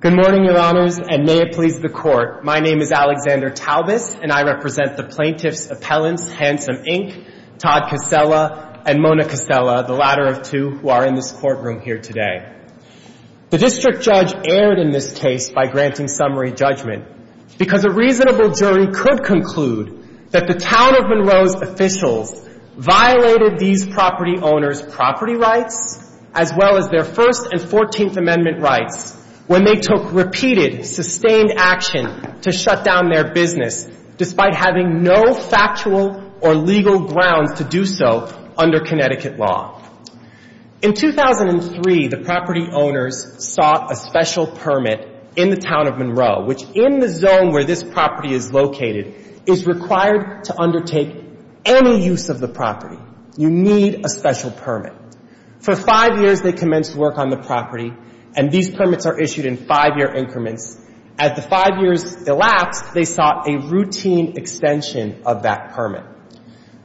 Good morning, Your Honors, and may it please the Court. My name is Alexander Talbis, and I represent the plaintiffs' appellants, Handsome, Inc., Todd Casella, and Mona Casella, the latter of two who are in this courtroom here today. The district judge erred in this case by granting summary judgment because a reasonable jury could conclude that the Town of Monroe's officials violated these property owners' property rights as well as their First and Fourteenth Amendment rights when they took repeated, sustained action to shut down their business despite having no factual or legal grounds to do so under Connecticut law. In 2003, the property owners sought a special permit in the Town of Monroe, which in the zone where this property is located, is required to undertake any use of the property. You need a special permit. For five years, they commenced work on the property, and these permits are issued in five-year increments. At the five years elapsed, they sought a routine extension of that permit.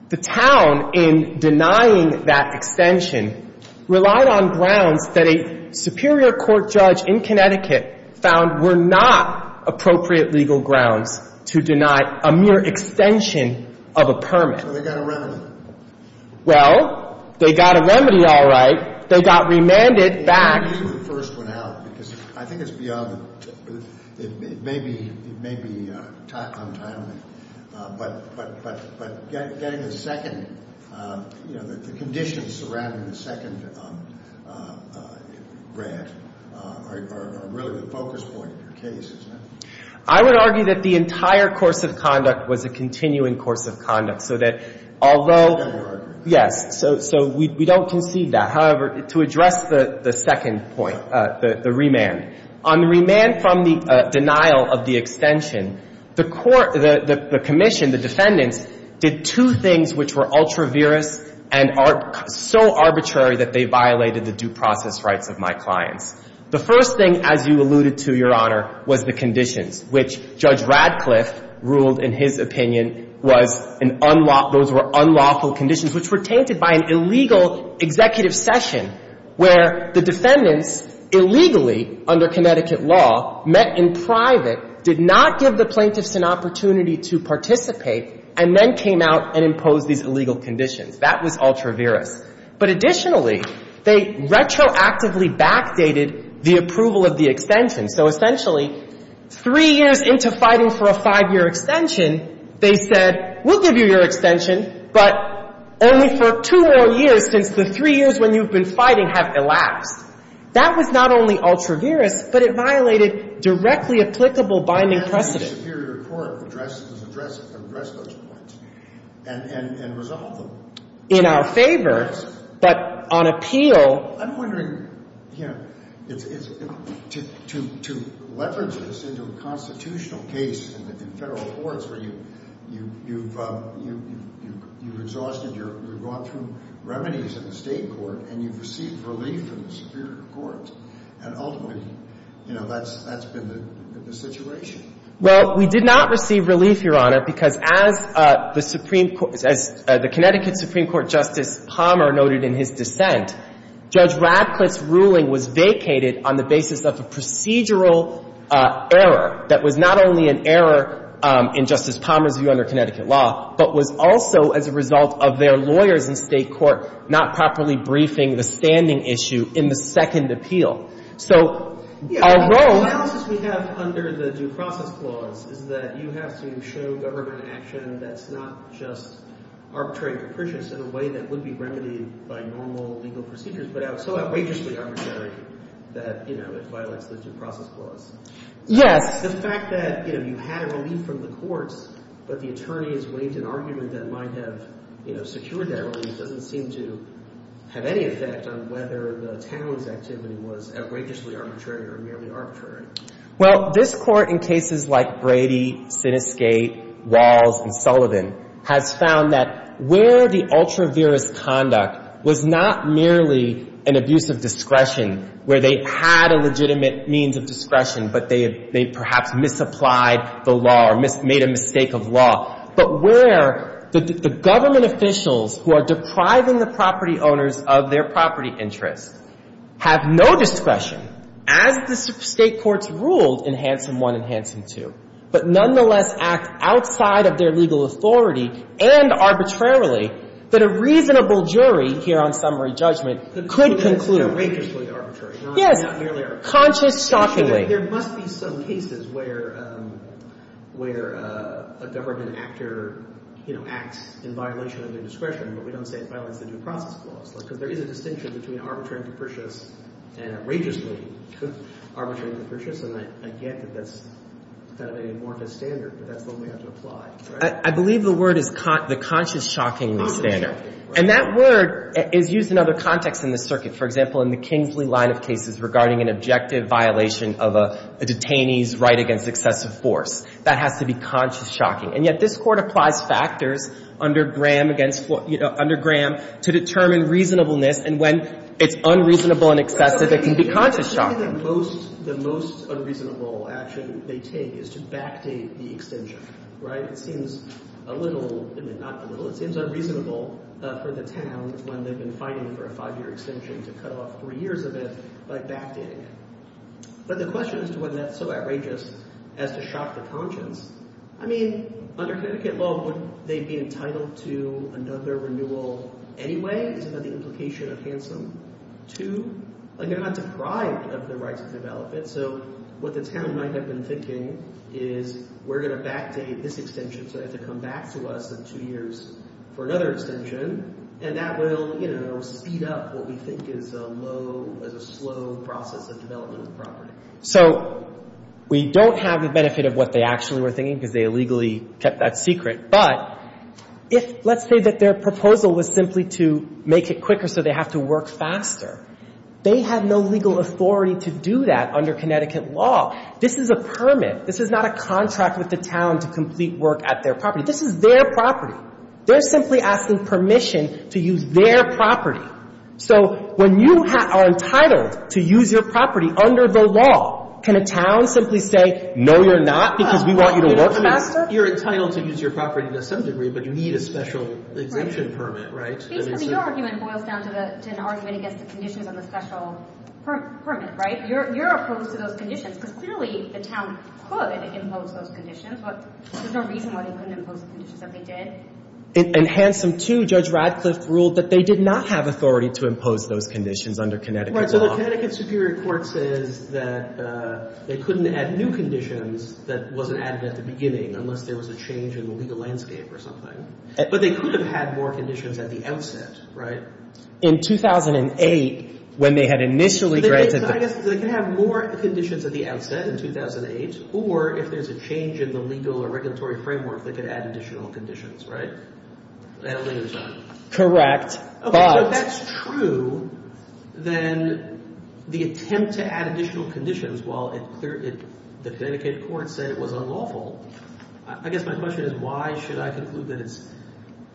The Town, in denying that extension, relied on grounds that a superior court judge in Connecticut found were not appropriate legal grounds to deny a mere extension of a permit. So they got a remedy. Well, they got a remedy all right. They got remanded back. I would argue that the entire course of conduct was a continuing course of conduct, so that although — Yes. So we don't concede that. On the remand from the denial of the extension, the court — the commission, the defendants, did two things which were ultra-virous and so arbitrary that they violated the due process rights of my clients. The first thing, as you alluded to, Your Honor, was the conditions, which Judge Radcliffe ruled, in his opinion, was an — those were unlawful conditions, which were tainted by an illegal executive session where the defendants illegally, under Connecticut law, met in private, did not give the plaintiffs an opportunity to participate, and then came out and imposed these illegal conditions. That was ultra-virous. But additionally, they retroactively backdated the approval of the extension. So essentially, three years into fighting for a five-year extension, they said, we'll give you your extension, but only for two more years since the three years when you've been fighting have elapsed. That was not only ultra-virous, but it violated directly applicable binding precedent. It violated all the constitutional basics that was set forth by Connecticut law to arbitrarily restrict defense meetings and presentation of state examples. The court contest documents, although they didn't look directly at the Superior Court, children have been removed from the Superior Court right away after the end of the extension. The Supreme Court did not receive relief, Your Honor, because as the Connecticut Supreme Court Justice Palmer noted in his dissent, Judge Radcliffe's ruling was vacated on the basis of a procedural error that was not only an error in Justice Palmer's view under Connecticut law, but was also as a result of their lawyers in State court not properly briefing the standing issue in the second appeal. So our role… The balances we have under the due process clause is that you have to show government action that's not just arbitrary and capricious in a way that would be remedied by normal legal procedures, but so outrageously arbitrary that it violates the due process clause. The fact that you had relief from the courts, but the attorneys waived an argument that might have secured that relief doesn't seem to have any effect on whether the town's activity was outrageously arbitrary or merely arbitrary. Well, this Court, in cases like Brady, Siniscate, Walls, and Sullivan, has found that where the ultra-virous conduct was not merely an abuse of discretion, where they had a legitimate means of discretion, but they perhaps misapplied the law or made a mistake of law, but where the government officials who are depriving the property owners of their property interests have no discretion, as the State court has found, in the case of Brady, Siniscate, Walls, and Sullivan. So the courts ruled in Hansen I and Hansen II, but nonetheless act outside of their legal authority and arbitrarily that a reasonable jury, here on summary judgment, could conclude… But it's outrageously arbitrary. Yes. Not merely arbitrary. Conscious, shockingly. There must be some cases where a government actor, you know, acts in violation of their discretion, but we don't say it violates the due process clause, because there is a distinction between arbitrary and capricious and outrageously. And I get that that's kind of an amorphous standard, but that's the one we have to apply, right? I believe the word is the conscious, shockingly standard. Conscious, shockingly. And that word is used in other contexts in this circuit. For example, in the Kingsley line of cases regarding an objective violation of a detainee's right against excessive force. That has to be conscious, shocking. And yet this Court applies factors under Graham against, you know, under Graham to determine reasonableness, and when it's unreasonable and excessive, it can be conscious, shocking. The most unreasonable action they take is to backdate the extension, right? It seems a little, not a little, it seems unreasonable for the town, when they've been fighting for a five-year extension, to cut off three years of it by backdating it. But the question as to whether that's so outrageous as to shock the conscience, I mean, under Connecticut law, would they be entitled to another renewal anyway? Is that the implication of Hanson II? Like, they're not deprived of their rights to develop it, so what the town might have been thinking is we're going to backdate this extension so they have to come back to us in two years for another extension. And that will, you know, speed up what we think is a slow process of development of the property. So we don't have the benefit of what they actually were thinking because they illegally kept that secret. But if, let's say that their proposal was simply to make it quicker so they have to work faster, they have no legal authority to do that under Connecticut law. This is a permit. This is not a contract with the town to complete work at their property. This is their property. They're simply asking permission to use their property. So when you are entitled to use your property under the law, can a town simply say, no, you're not, because we want you to work faster? You're entitled to use your property to some degree, but you need a special exemption permit, right? Basically, your argument boils down to an argument against the conditions on the special permit, right? You're opposed to those conditions because clearly the town could impose those conditions, but there's no reason why they couldn't impose the conditions that they did. And Handsome 2, Judge Radcliffe ruled that they did not have authority to impose those conditions under Connecticut law. Right. Well, the Connecticut Superior Court says that they couldn't add new conditions that wasn't added at the beginning unless there was a change in the legal landscape or something. But they could have had more conditions at the outset, right? In 2008, when they had initially granted the permit. Correct. So if that's true, then the attempt to add additional conditions, while the Connecticut court said it was unlawful, I guess my question is, why should I conclude that it's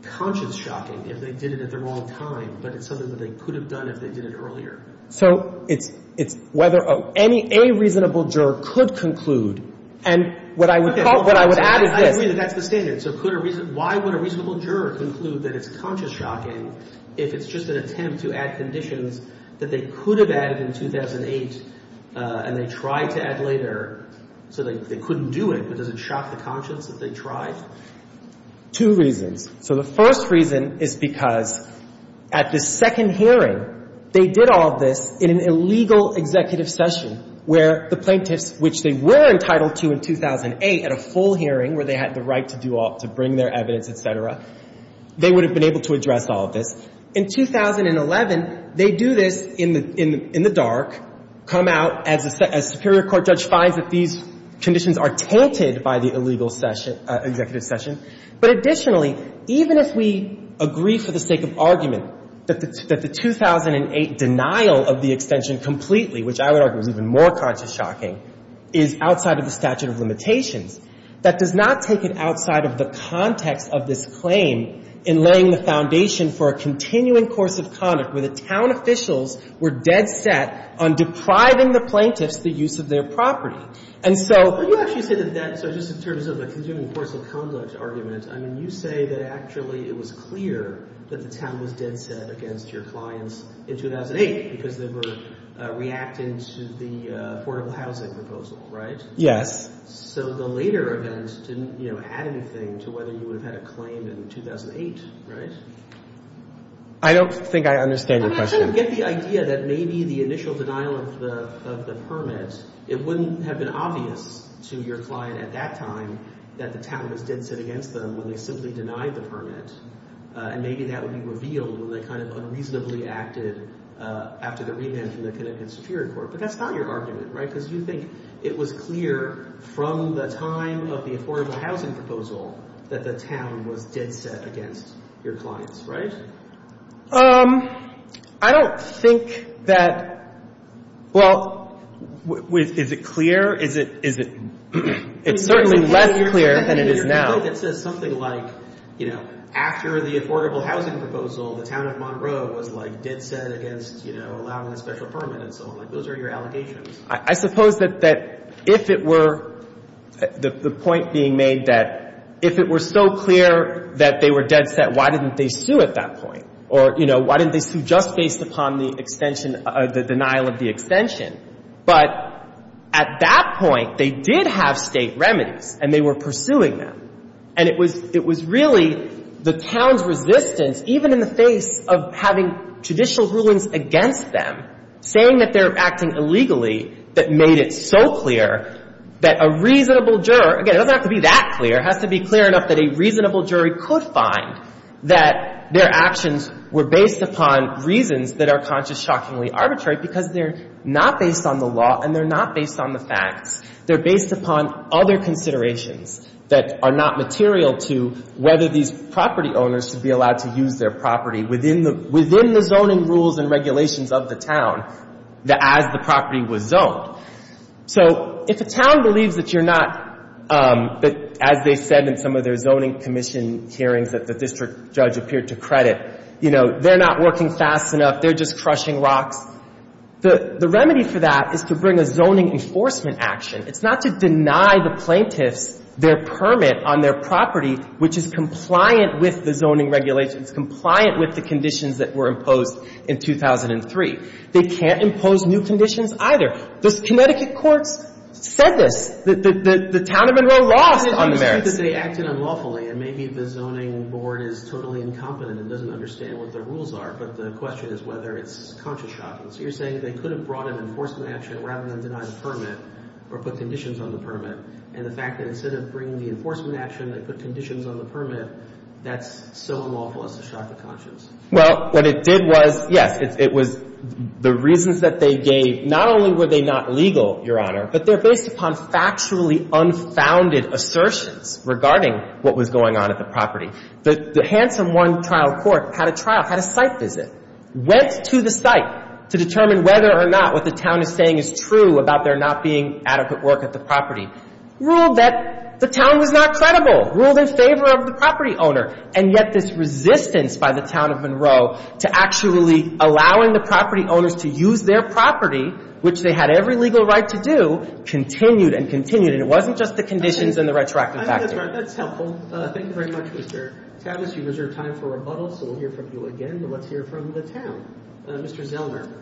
conscience shocking if they did it at the wrong time, but it's something that they could have done if they did it earlier? So it's whether a reasonable juror could conclude. And what I would add is this. I agree that that's the standard. Okay. So could a reason — why would a reasonable juror conclude that it's conscience shocking if it's just an attempt to add conditions that they could have added in 2008 and they tried to add later so they couldn't do it? But does it shock the conscience that they tried? Two reasons. So the first reason is because at the second hearing, they did all of this in an illegal executive session where the plaintiffs, which they were entitled to in 2008 at a full hearing where they had the right to do all — to bring their evidence, et cetera, they would have been able to address all of this. In 2011, they do this in the dark, come out as a superior court judge finds that these conditions are tainted by the illegal executive session. But additionally, even if we agree for the sake of argument that the 2008 denial of the extension completely, which I would argue is even more conscience shocking, is outside of the statute of limitations, that does not take it outside of the context of this claim in laying the foundation for a continuing course of conduct where the town officials were dead set on depriving the plaintiffs the use of their property. And so — But you actually say that that — so just in terms of a continuing course of conduct argument, I mean, you say that actually it was clear that the town was dead set against your clients in 2008 because they were reacting to the affordable housing proposal, right? Yes. So the later event didn't, you know, add anything to whether you would have had a claim in 2008, right? I don't think I understand your question. I mean, I sort of get the idea that maybe the initial denial of the permit, it wouldn't have been obvious to your client at that time that the town was dead set against them when they simply denied the permit. And maybe that would be revealed when they kind of unreasonably acted after the remand from the Connecticut Superior Court. But that's not your argument, right? Because you think it was clear from the time of the affordable housing proposal that the town was dead set against your clients, right? I don't think that — Well, is it clear? Is it — it's certainly less clear than it is now. I suppose that if it were — the point being made that if it were so clear that they were dead set, why didn't they sue at that point? Or, you know, why didn't they sue just based upon the extension — the denial of the extension? But at that point, they did have State remedies, and they were pursuing them. And it was — it was really the town's resistance, even in the face of having judicial rulings against them, saying that they're acting illegally, that made it so clear that a reasonable juror — again, it doesn't have to be that clear. It has to be clear enough that a reasonable jury could find that their actions were based upon reasons that are conscious, shockingly arbitrary, because they're not based on the law and they're not based on the facts. They're based upon other considerations that are not material to whether these property owners should be allowed to use their property within the zoning rules and regulations of the town as the property was zoned. So if a town believes that you're not — that, as they said in some of their zoning commission hearings that the district judge appeared to credit, you know, they're not working fast enough, they're just crushing rocks, the remedy for that is to bring a zoning enforcement action. It's not to deny the plaintiffs their permit on their property, which is compliant with the zoning regulations, compliant with the conditions that were imposed in 2003. They can't impose new conditions either. The Connecticut courts said this. The town of Monroe lost on the merits. I think that they acted unlawfully, and maybe the zoning board is totally incompetent and doesn't understand what the rules are, but the question is whether it's conscious shocking. So you're saying they could have brought an enforcement action rather than deny the permit or put conditions on the permit, and the fact that instead of bringing the enforcement action, they put conditions on the permit, that's so unlawful as to shock the conscience. Well, what it did was, yes, it was — the reasons that they gave, not only were they not legal, Your Honor, but they're based upon factually unfounded assertions regarding what was going on at the property. The Hanson One Trial Court had a trial, had a site visit, went to the site to determine whether or not what the town is saying is true about there not being adequate work at the property, ruled that the town was not credible, ruled in favor of the property owner. And yet this resistance by the town of Monroe to actually allowing the property owners to use their property, which they had every legal right to do, continued and continued. And it wasn't just the conditions and the retroactive factors. I think that's helpful. Thank you very much, Mr. Tavis. You reserve time for rebuttals, so we'll hear from you again, but let's hear from the town. Mr. Zellner.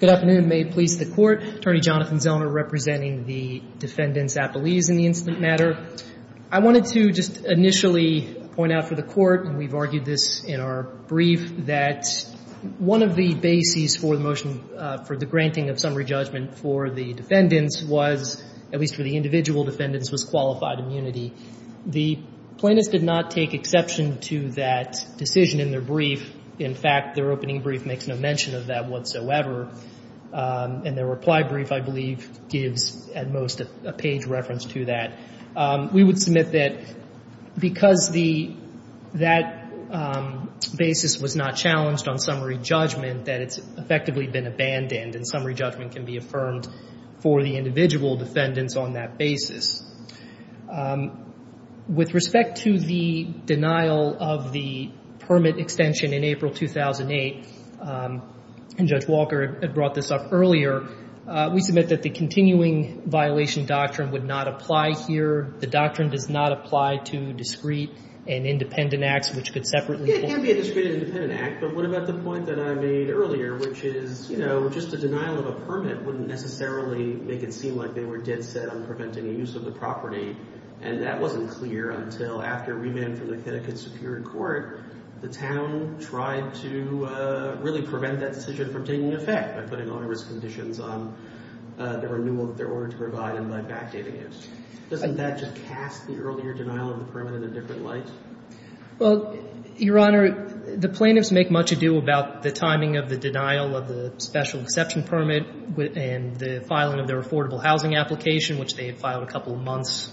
Good afternoon. May it please the Court. Attorney Jonathan Zellner representing the defendants' appellees in the incident matter. I wanted to just initially point out for the Court, and we've argued this in our brief, that one of the bases for the motion for the granting of summary judgment for the defendants was, at least for the individual defendants, was claustrophobia. The plaintiffs did not take exception to that decision in their brief. In fact, their opening brief makes no mention of that whatsoever. And their reply brief, I believe, gives at most a page reference to that. We would submit that because that basis was not challenged on summary judgment, that it's effectively been abandoned, and summary judgment can be affirmed for the individual defendants on that basis. With respect to the denial of the permit extension in April 2008, and Judge Walker had brought this up earlier, we submit that the continuing violation doctrine would not apply here. The doctrine does not apply to discrete and independent acts, which could separately hold. It can be a discrete and independent act, but what about the point that I made earlier, which is, you know, just a denial of a permit wouldn't necessarily make it seem like they were dead set on preventing the use of the property. And that wasn't clear until after remand from the Connecticut Superior Court, the town tried to really prevent that decision from taking effect by putting all of its conditions on the renewal of their order to provide and by backdating it. Doesn't that just cast the earlier denial of the permit in a different light? Well, Your Honor, the plaintiffs make much ado about the timing of the denial of the special exception permit and the filing of their affordable housing application, which they had filed a couple of months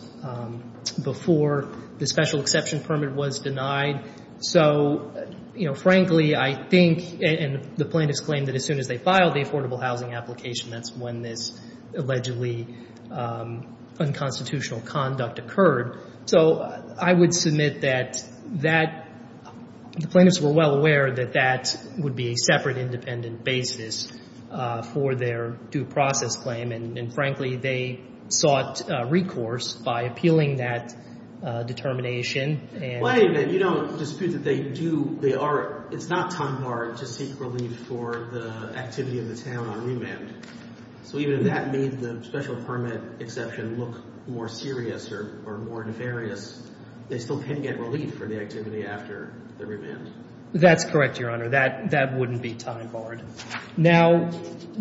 before the special exception permit was denied. So, you know, frankly, I think, and the plaintiffs claim that as soon as they filed the affordable housing application, that's when this allegedly unconstitutional conduct occurred. So I would submit that the plaintiffs were well aware that that would be a separate independent basis for their due process claim. And, frankly, they sought recourse by appealing that determination. Well, anyway, you don't dispute that they do. It's not time hard to seek relief for the activity of the town on remand. So even if that made the special permit exception look more serious or more nefarious, they still can get relief for the activity after the remand. That's correct, Your Honor. That wouldn't be time hard. Now,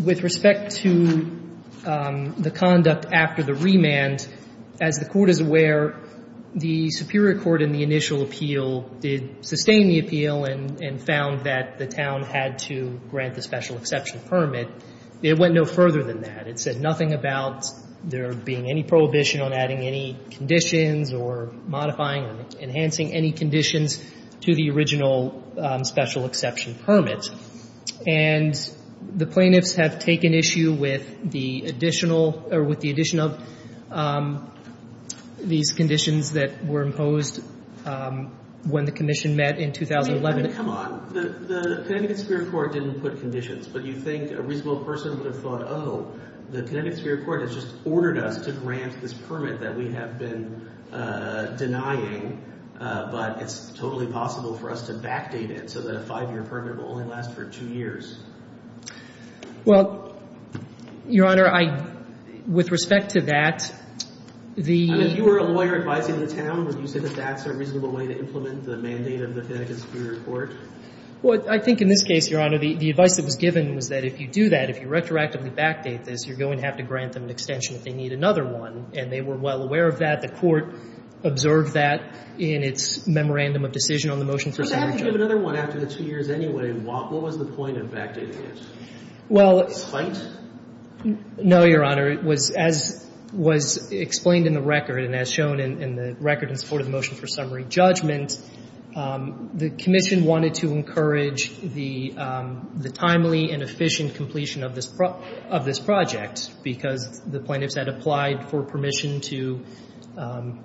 with respect to the conduct after the remand, as the Court is aware, the Superior Court in the initial appeal did sustain the appeal and found that the town had to grant the special exception permit. It went no further than that. It said nothing about there being any prohibition on adding any conditions or modifying or enhancing any conditions to the original special exception permit. And the plaintiffs have taken issue with the additional or with the addition of these conditions that were imposed when the commission met in 2011. I mean, come on. The Connecticut Superior Court didn't put conditions, but you think a reasonable person would have thought, oh, the Connecticut Superior Court has just ordered us to grant this permit that we have been denying, but it's totally possible for us to backdate it so that a five-year permit will only last for two years. Well, Your Honor, I — with respect to that, the — I mean, if you were a lawyer advising the town, would you say that that's a reasonable way to implement the mandate of the Connecticut Superior Court? Well, I think in this case, Your Honor, the advice that was given was that if you do that, if you retroactively backdate this, you're going to have to grant them an extension if they need another one. And they were well aware of that. The Court observed that in its memorandum of decision on the motion for signature. But they have to give another one after the two years anyway. What was the point of backdating it? Well — Despite? No, Your Honor. As was explained in the record and as shown in the record in support of the motion for summary judgment, the commission wanted to encourage the timely and efficient completion of this project because the plaintiffs had applied for permission to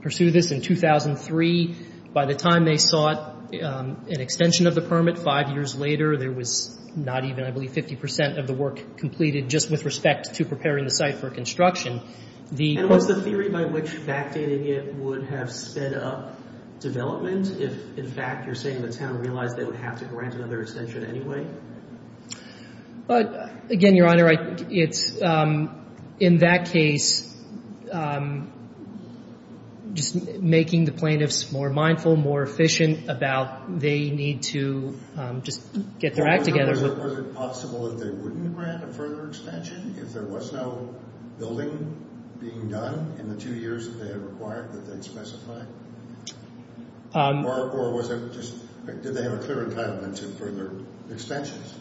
pursue this in 2003. By the time they sought an extension of the permit five years later, there was not even, I believe, 50 percent of the work completed just with respect to preparing the site for construction. And was the theory by which backdating it would have sped up development if, in fact, you're saying the town realized they would have to grant another extension anyway? Again, Your Honor, in that case, just making the plaintiffs more mindful, more efficient about they need to just get their act together with — Was it possible that they wouldn't grant a further extension if there was no building being done in the two years that they had required that they had specified? Or was it just — did they have a clear entitlement to further extensions?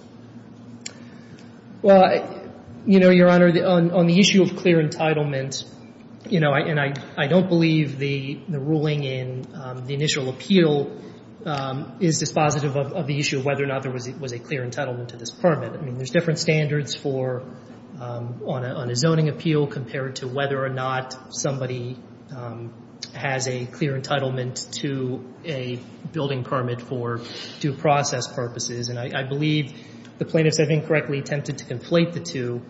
Well, you know, Your Honor, on the issue of clear entitlement, you know, and I don't believe the ruling in the initial appeal is dispositive of the issue of whether or not there was a clear entitlement to this permit. I mean, there's different standards on a zoning appeal compared to whether or not somebody has a clear entitlement to a building permit for due process purposes. And I believe the plaintiffs, I think, correctly attempted to conflate the two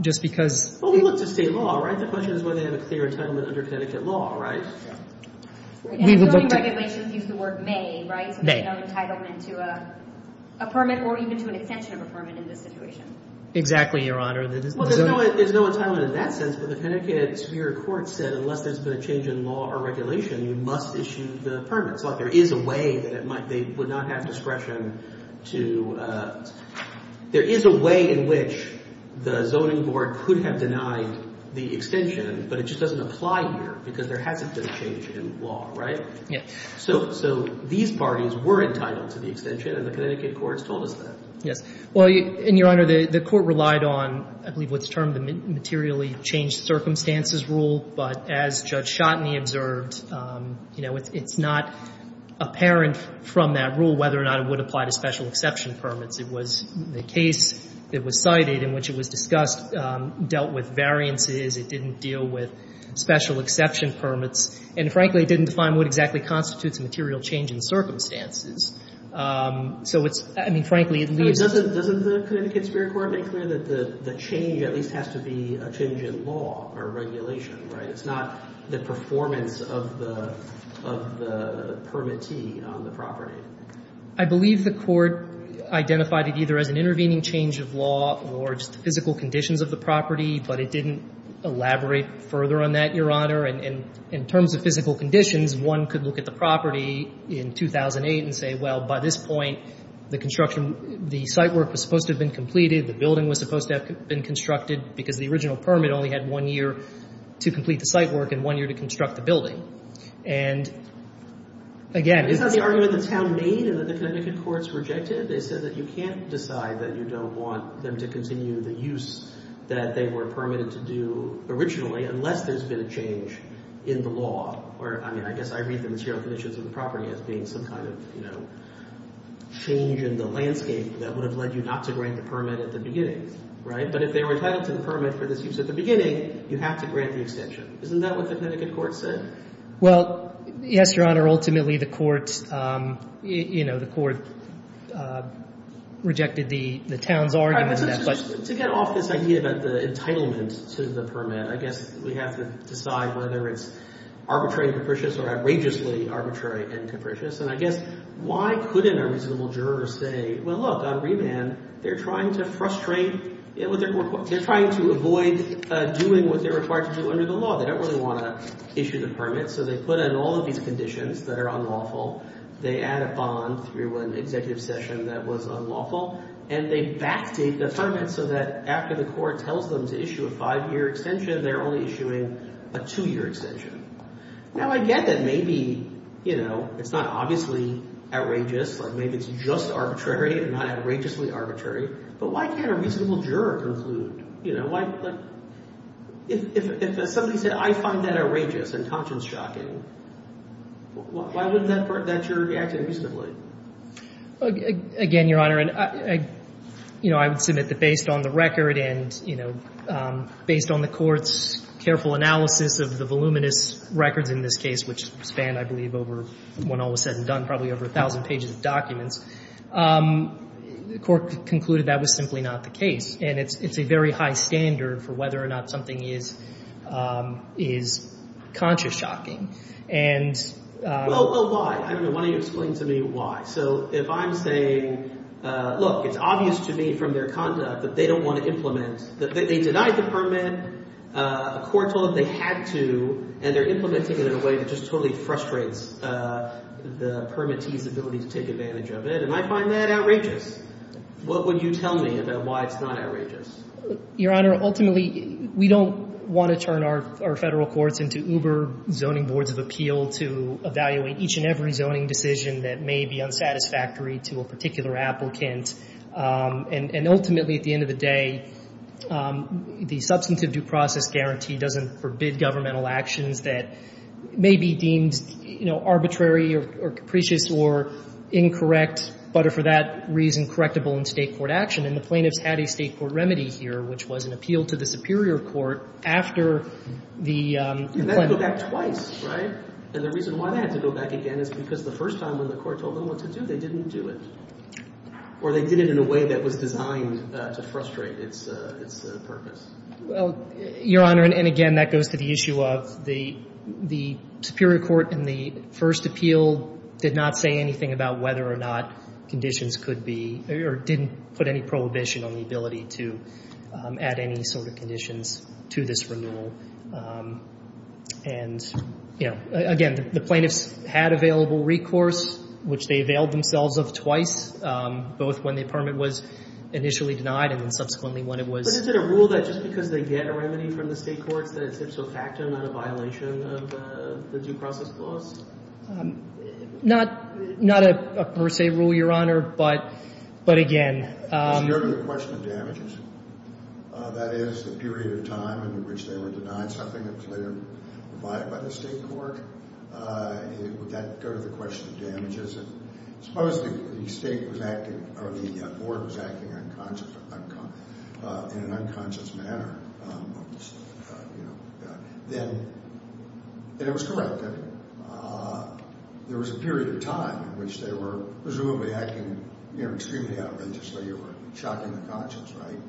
just because — because there was a clear entitlement under Connecticut law, right? And zoning regulations use the word may, right? So there's no entitlement to a permit or even to an extension of a permit in this situation. Exactly, Your Honor. Well, there's no entitlement in that sense, but the Connecticut Superior Court said unless there's been a change in law or regulation, you must issue the permit. So there is a way that it might — they would not have discretion to — there is a way in which the zoning board could have denied the extension, but it just doesn't apply here because there hasn't been a change in law, right? Yeah. So these parties were entitled to the extension, and the Connecticut courts told us that. Yes. Well, and, Your Honor, the court relied on, I believe, what's termed the materially changed circumstances rule. But as Judge Schotteny observed, you know, it's not apparent from that rule whether or not it would apply to special exception permits. It was the case that was cited in which it was discussed dealt with variances. It didn't deal with special exception permits. And, frankly, it didn't define what exactly constitutes a material change in circumstances. So it's — I mean, frankly, it leaves — Doesn't the Connecticut Superior Court make clear that the change at least has to be a change in law or regulation, right? It's not the performance of the — of the permittee on the property. I believe the court identified it either as an intervening change of law or just the physical conditions of the property, but it didn't elaborate further on that, Your Honor. And in terms of physical conditions, one could look at the property in 2008 and say, well, by this point, the construction — the site work was supposed to have been completed, the building was supposed to have been constructed because the original permit only had one year to complete the site work and one year to construct the building. And, again — Is that the argument the town made and that the Connecticut courts rejected? They said that you can't decide that you don't want them to continue the use that they were permitted to do originally unless there's been a change in the law. Or, I mean, I guess I read the material conditions of the property as being some kind of, you know, change in the landscape that would have led you not to grant the permit at the beginning, right? But if they were entitled to the permit for this use at the beginning, you have to grant the extension. Isn't that what the Connecticut court said? Well, yes, Your Honor, ultimately the court — you know, the court rejected the town's argument. To get off this idea about the entitlement to the permit, I guess we have to decide whether it's arbitrary and capricious or outrageously arbitrary and capricious. And I guess why couldn't a reasonable juror say, well, look, on remand, they're trying to frustrate — they're trying to avoid doing what they're required to do under the law. They don't really want to issue the permit. So they put in all of these conditions that are unlawful. They add a bond through an executive session that was unlawful. And they backdate the permit so that after the court tells them to issue a five-year extension, they're only issuing a two-year extension. Now, I get that maybe, you know, it's not obviously outrageous. Like, maybe it's just arbitrary and not outrageously arbitrary. But why can't a reasonable juror conclude? You know, why — like, if somebody said, I find that outrageous and conscience-shocking, why wouldn't that — that juror be acting reasonably? Again, Your Honor, you know, I would submit that based on the record and, you know, based on the court's careful analysis of the voluminous records in this case, which span, I believe, over — when all was said and done, probably over a thousand pages of documents, the court concluded that was simply not the case. And it's a very high standard for whether or not something is conscious-shocking. And — Well, why? I don't know. Why don't you explain to me why? So if I'm saying, look, it's obvious to me from their conduct that they don't want to implement — that they denied the permit, a court told them they had to, and they're implementing it in a way that just totally frustrates the permittee's ability to take advantage of it. And I find that outrageous. What would you tell me about why it's not outrageous? Your Honor, ultimately, we don't want to turn our Federal courts into Uber zoning boards of appeal to evaluate each and every zoning decision that may be unsatisfactory to a particular applicant. And ultimately, at the end of the day, the substantive due process guarantee doesn't forbid governmental actions that may be deemed, you know, arbitrary or capricious or incorrect, but are for that reason correctable in State court action. And the plaintiffs had a State court remedy here, which was an appeal to the Superior Court after the — And that went back twice, right? And the reason why that had to go back again is because the first time when the court told them what to do, they didn't do it. Or they did it in a way that was designed to frustrate its purpose. Well, Your Honor, and again, that goes to the issue of the Superior Court in the first appeal did not say anything about whether or not conditions could be — or didn't put any prohibition on the ability to add any sort of conditions to this renewal. And, you know, again, the plaintiffs had available recourse, which they availed themselves of twice, both when the permit was initially denied and then subsequently when it was — But is it a rule that just because they get a remedy from the State courts, that it's ipso facto, not a violation of the due process clause? Not a per se rule, Your Honor, but again — Does it go to the question of damages? That is, the period of time in which they were denied something that was later provided by the State court? Would that go to the question of damages? Suppose the State was acting — or the board was acting in an unconscious manner, you know, then it was correct that there was a period of time in which they were presumably acting, you know, extremely outrageously or shocking the conscience, right?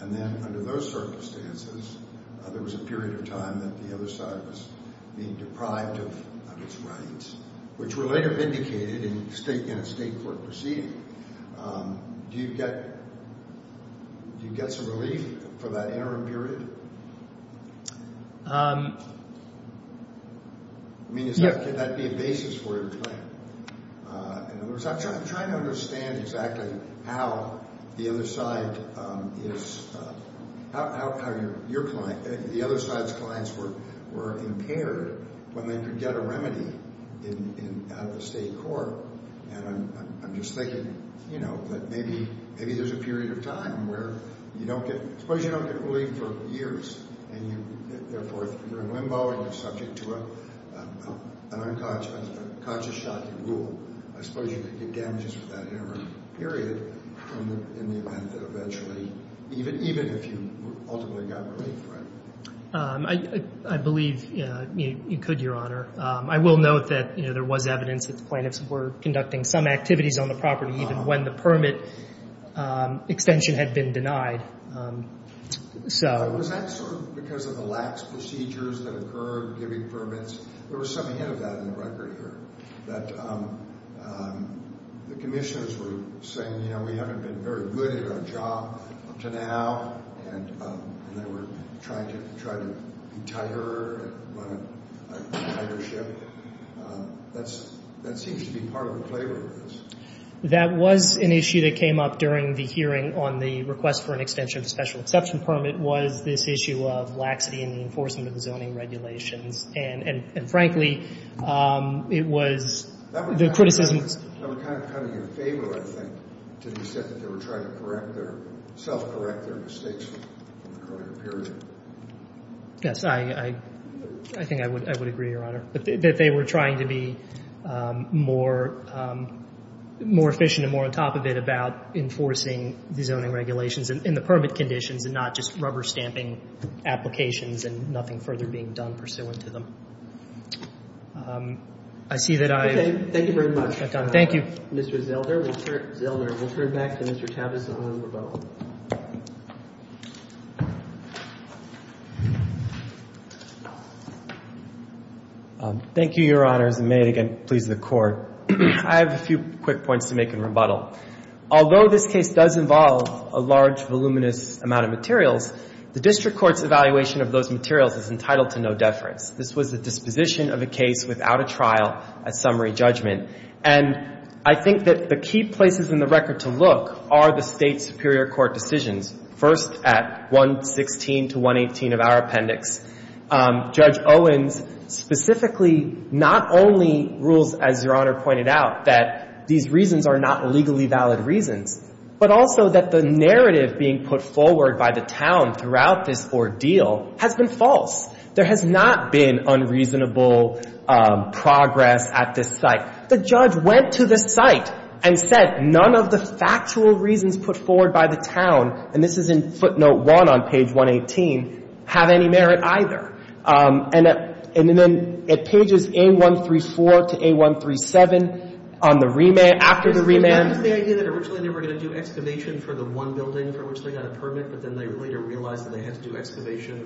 And then under those circumstances, there was a period of time that the other side was being deprived of its rights, which were later vindicated in a State court proceeding. Do you get some relief for that interim period? I mean, could that be a basis for your claim? In other words, I'm trying to understand exactly how the other side is — the other side's clients were impaired when they could get a remedy out of the State court. And I'm just thinking, you know, that maybe there's a period of time where you don't get — suppose you don't get relief for years, and therefore you're in limbo and you're subject to an unconscious shock in rule. I suppose you could get damages for that interim period in the event that eventually — even if you ultimately got relief, right? I believe you could, Your Honor. I will note that, you know, there was evidence that the plaintiffs were conducting some activities on the property, even when the permit extension had been denied. So was that sort of because of the lax procedures that occurred giving permits? There was some hint of that in the record here, that the commissioners were saying, you know, we haven't been very good at our job up to now, and they were trying to be tighter and run a tighter ship. That seems to be part of the flavor of this. That was an issue that came up during the hearing on the request for an extension of the special exception permit was this issue of laxity in the enforcement of the zoning regulations. And frankly, it was — the criticisms — I'm kind of coming in favor, I think, to the extent that they were trying to correct their — self-correct their mistakes in the current period. Yes, I think I would agree, Your Honor, that they were trying to be more efficient and more on top of it about enforcing the zoning regulations and the permit conditions and not just rubber-stamping applications and nothing further being done pursuant to them. I see that I — Okay. Thank you very much. Thank you. Mr. Zelder, we'll turn back to Mr. Tavis on rebuttal. Thank you, Your Honors, and may it again please the Court. I have a few quick points to make in rebuttal. Although this case does involve a large, voluminous amount of materials, the district court's evaluation of those materials is entitled to no deference. This was a disposition of a case without a trial, a summary judgment. And I think that the key places in the record to look are the State superior court decisions. First, at 116 to 118 of our appendix, Judge Owens specifically not only rules, as Your Honor pointed out, that these reasons are not legally valid reasons, but also that the narrative being put forward by the town throughout this ordeal has been false. There has not been unreasonable progress at this site. The judge went to this site and said none of the factual reasons put forward by the town, and this is in footnote 1 on page 118, have any merit either. And then at pages A134 to A137 on the remand — after the remand — they had to do excavation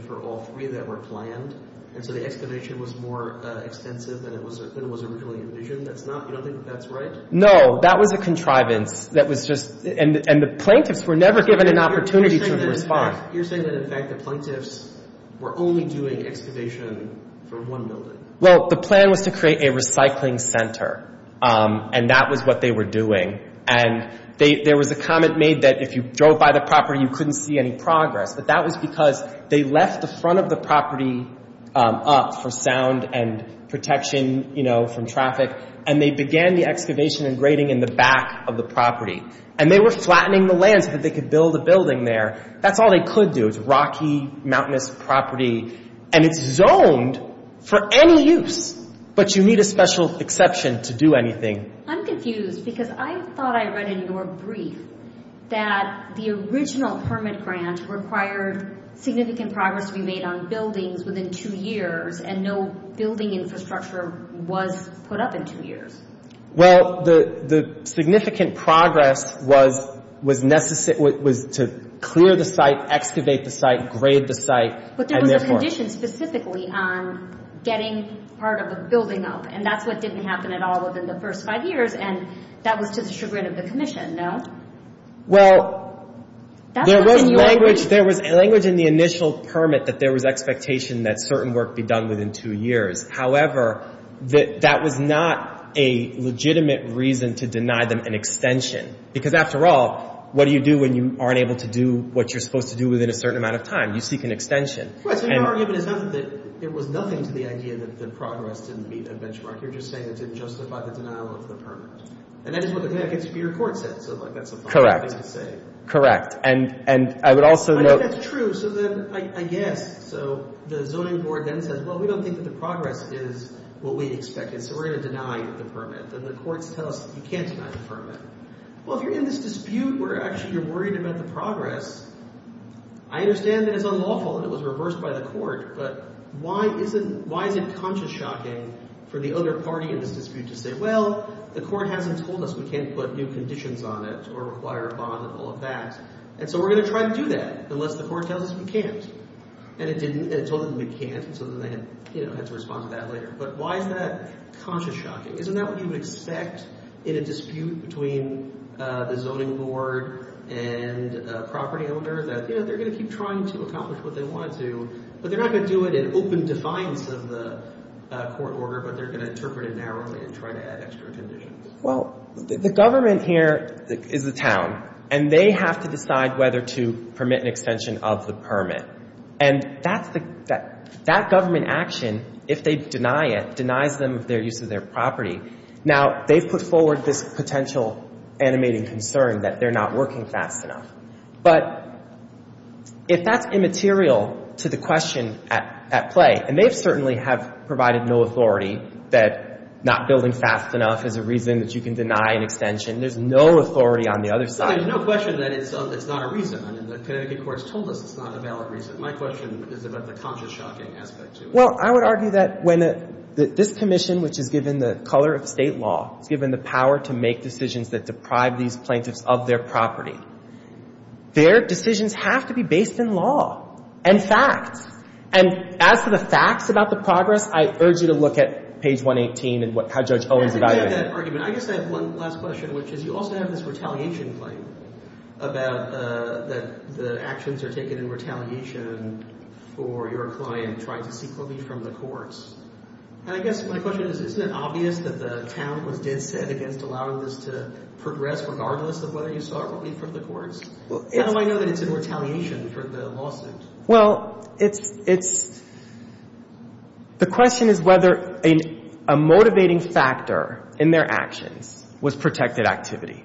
for all three that were planned, and so the excavation was more extensive than it was originally envisioned. You don't think that's right? No, that was a contrivance. And the plaintiffs were never given an opportunity to respond. You're saying that, in fact, the plaintiffs were only doing excavation for one building. Well, the plan was to create a recycling center, and that was what they were doing. And there was a comment made that if you drove by the property, you couldn't see any progress, but that was because they left the front of the property up for sound and protection from traffic, and they began the excavation and grading in the back of the property. And they were flattening the land so that they could build a building there. That's all they could do. It's rocky, mountainous property, and it's zoned for any use, but you need a special exception to do anything. I'm confused because I thought I read in your brief that the original permit grant required significant progress to be made on buildings within two years, and no building infrastructure was put up in two years. Well, the significant progress was to clear the site, excavate the site, grade the site. But there was a condition specifically on getting part of the building up, and that's what didn't happen at all within the first five years, and that was to the chagrin of the commission, no? Well, there was language in the initial permit that there was expectation that certain work be done within two years. However, that was not a legitimate reason to deny them an extension because, after all, what do you do when you aren't able to do what you're supposed to do within a certain amount of time? You seek an extension. Right, so your argument is not that it was nothing to the idea that the progress didn't meet a benchmark. You're just saying it didn't justify the denial of the permit. And that is what the Connecticut Superior Court said, so that's a fine thing to say. Correct. Correct. And I would also note— I mean, that's true, so then I guess. So the zoning board then says, well, we don't think that the progress is what we expected, so we're going to deny the permit. And the courts tell us you can't deny the permit. Well, if you're in this dispute where actually you're worried about the progress, I understand that it's unlawful and it was reversed by the court, but why is it conscious-shocking for the other party in this dispute to say, well, the court hasn't told us we can't put new conditions on it or require a bond and all of that, and so we're going to try to do that unless the court tells us we can't. And it told them we can't, and so then they had to respond to that later. But why is that conscious-shocking? Isn't that what you would expect in a dispute between the zoning board and a property owner, that, you know, they're going to keep trying to accomplish what they want to, but they're not going to do it in open defiance of the court order, but they're going to interpret it narrowly and try to add extra conditions? Well, the government here is the town, and they have to decide whether to permit an extension of the permit. And that's the – that government action, if they deny it, denies them of their use of their property. Now, they've put forward this potential animating concern that they're not working fast enough. But if that's immaterial to the question at play, and they certainly have provided no authority that not building fast enough is a reason that you can deny an extension. There's no authority on the other side. Well, there's no question that it's not a reason. I mean, the Connecticut courts told us it's not a valid reason. My question is about the conscious-shocking aspect to it. Well, I would argue that when this commission, which is given the color of state law, is given the power to make decisions that deprive these plaintiffs of their property, their decisions have to be based in law and facts. And as for the facts about the progress, I urge you to look at page 118 and how Judge Owens evaluated it. With that argument, I guess I have one last question, which is you also have this retaliation claim about that the actions are taken in retaliation for your client trying to seek leave from the courts. And I guess my question is, isn't it obvious that the town was dead set against allowing this to progress, regardless of whether you sought leave from the courts? How do I know that it's in retaliation for the lawsuit? Well, it's — it's — the question is whether a motivating factor in their actions was protected activity.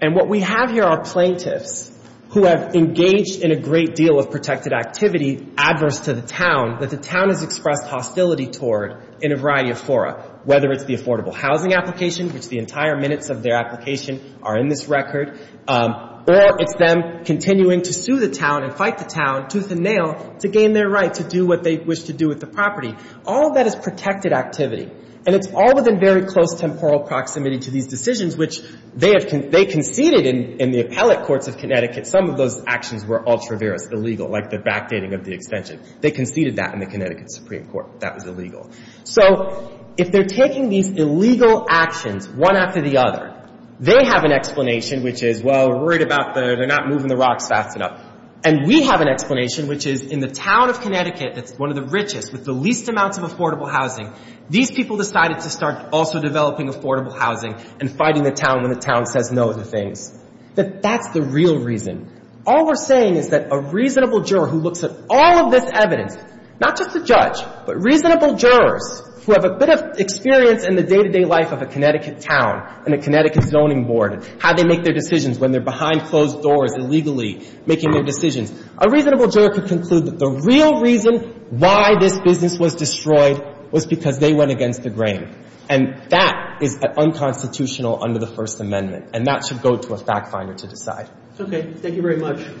And what we have here are plaintiffs who have engaged in a great deal of protected activity adverse to the town that the town has expressed hostility toward in a variety of fora, whether it's the affordable housing application, which the entire minutes of their application are in this record, or it's them continuing to sue the town and fight the town tooth and nail to gain their right to do what they wish to do with the property. All of that is protected activity. And it's all within very close temporal proximity to these decisions, which they have — they conceded in the appellate courts of Connecticut. Some of those actions were ultraverous, illegal, like the backdating of the extension. They conceded that in the Connecticut Supreme Court. That was illegal. So if they're taking these illegal actions one after the other, they have an explanation, which is, well, we're worried about the — they're not moving the rocks fast enough. And we have an explanation, which is in the town of Connecticut that's one of the richest with the least amounts of affordable housing, these people decided to start also developing affordable housing and fighting the town when the town says no to things. But that's the real reason. All we're saying is that a reasonable juror who looks at all of this evidence, not just the judge, but reasonable jurors who have a bit of experience in the day-to-day life of a Connecticut town and a Connecticut zoning board and how they make their decisions when they're behind closed doors illegally making their decisions, a reasonable juror could conclude that the real reason why this business was destroyed was because they went against the grain. And that is unconstitutional under the First Amendment. And that should go to a fact finder to decide. Okay.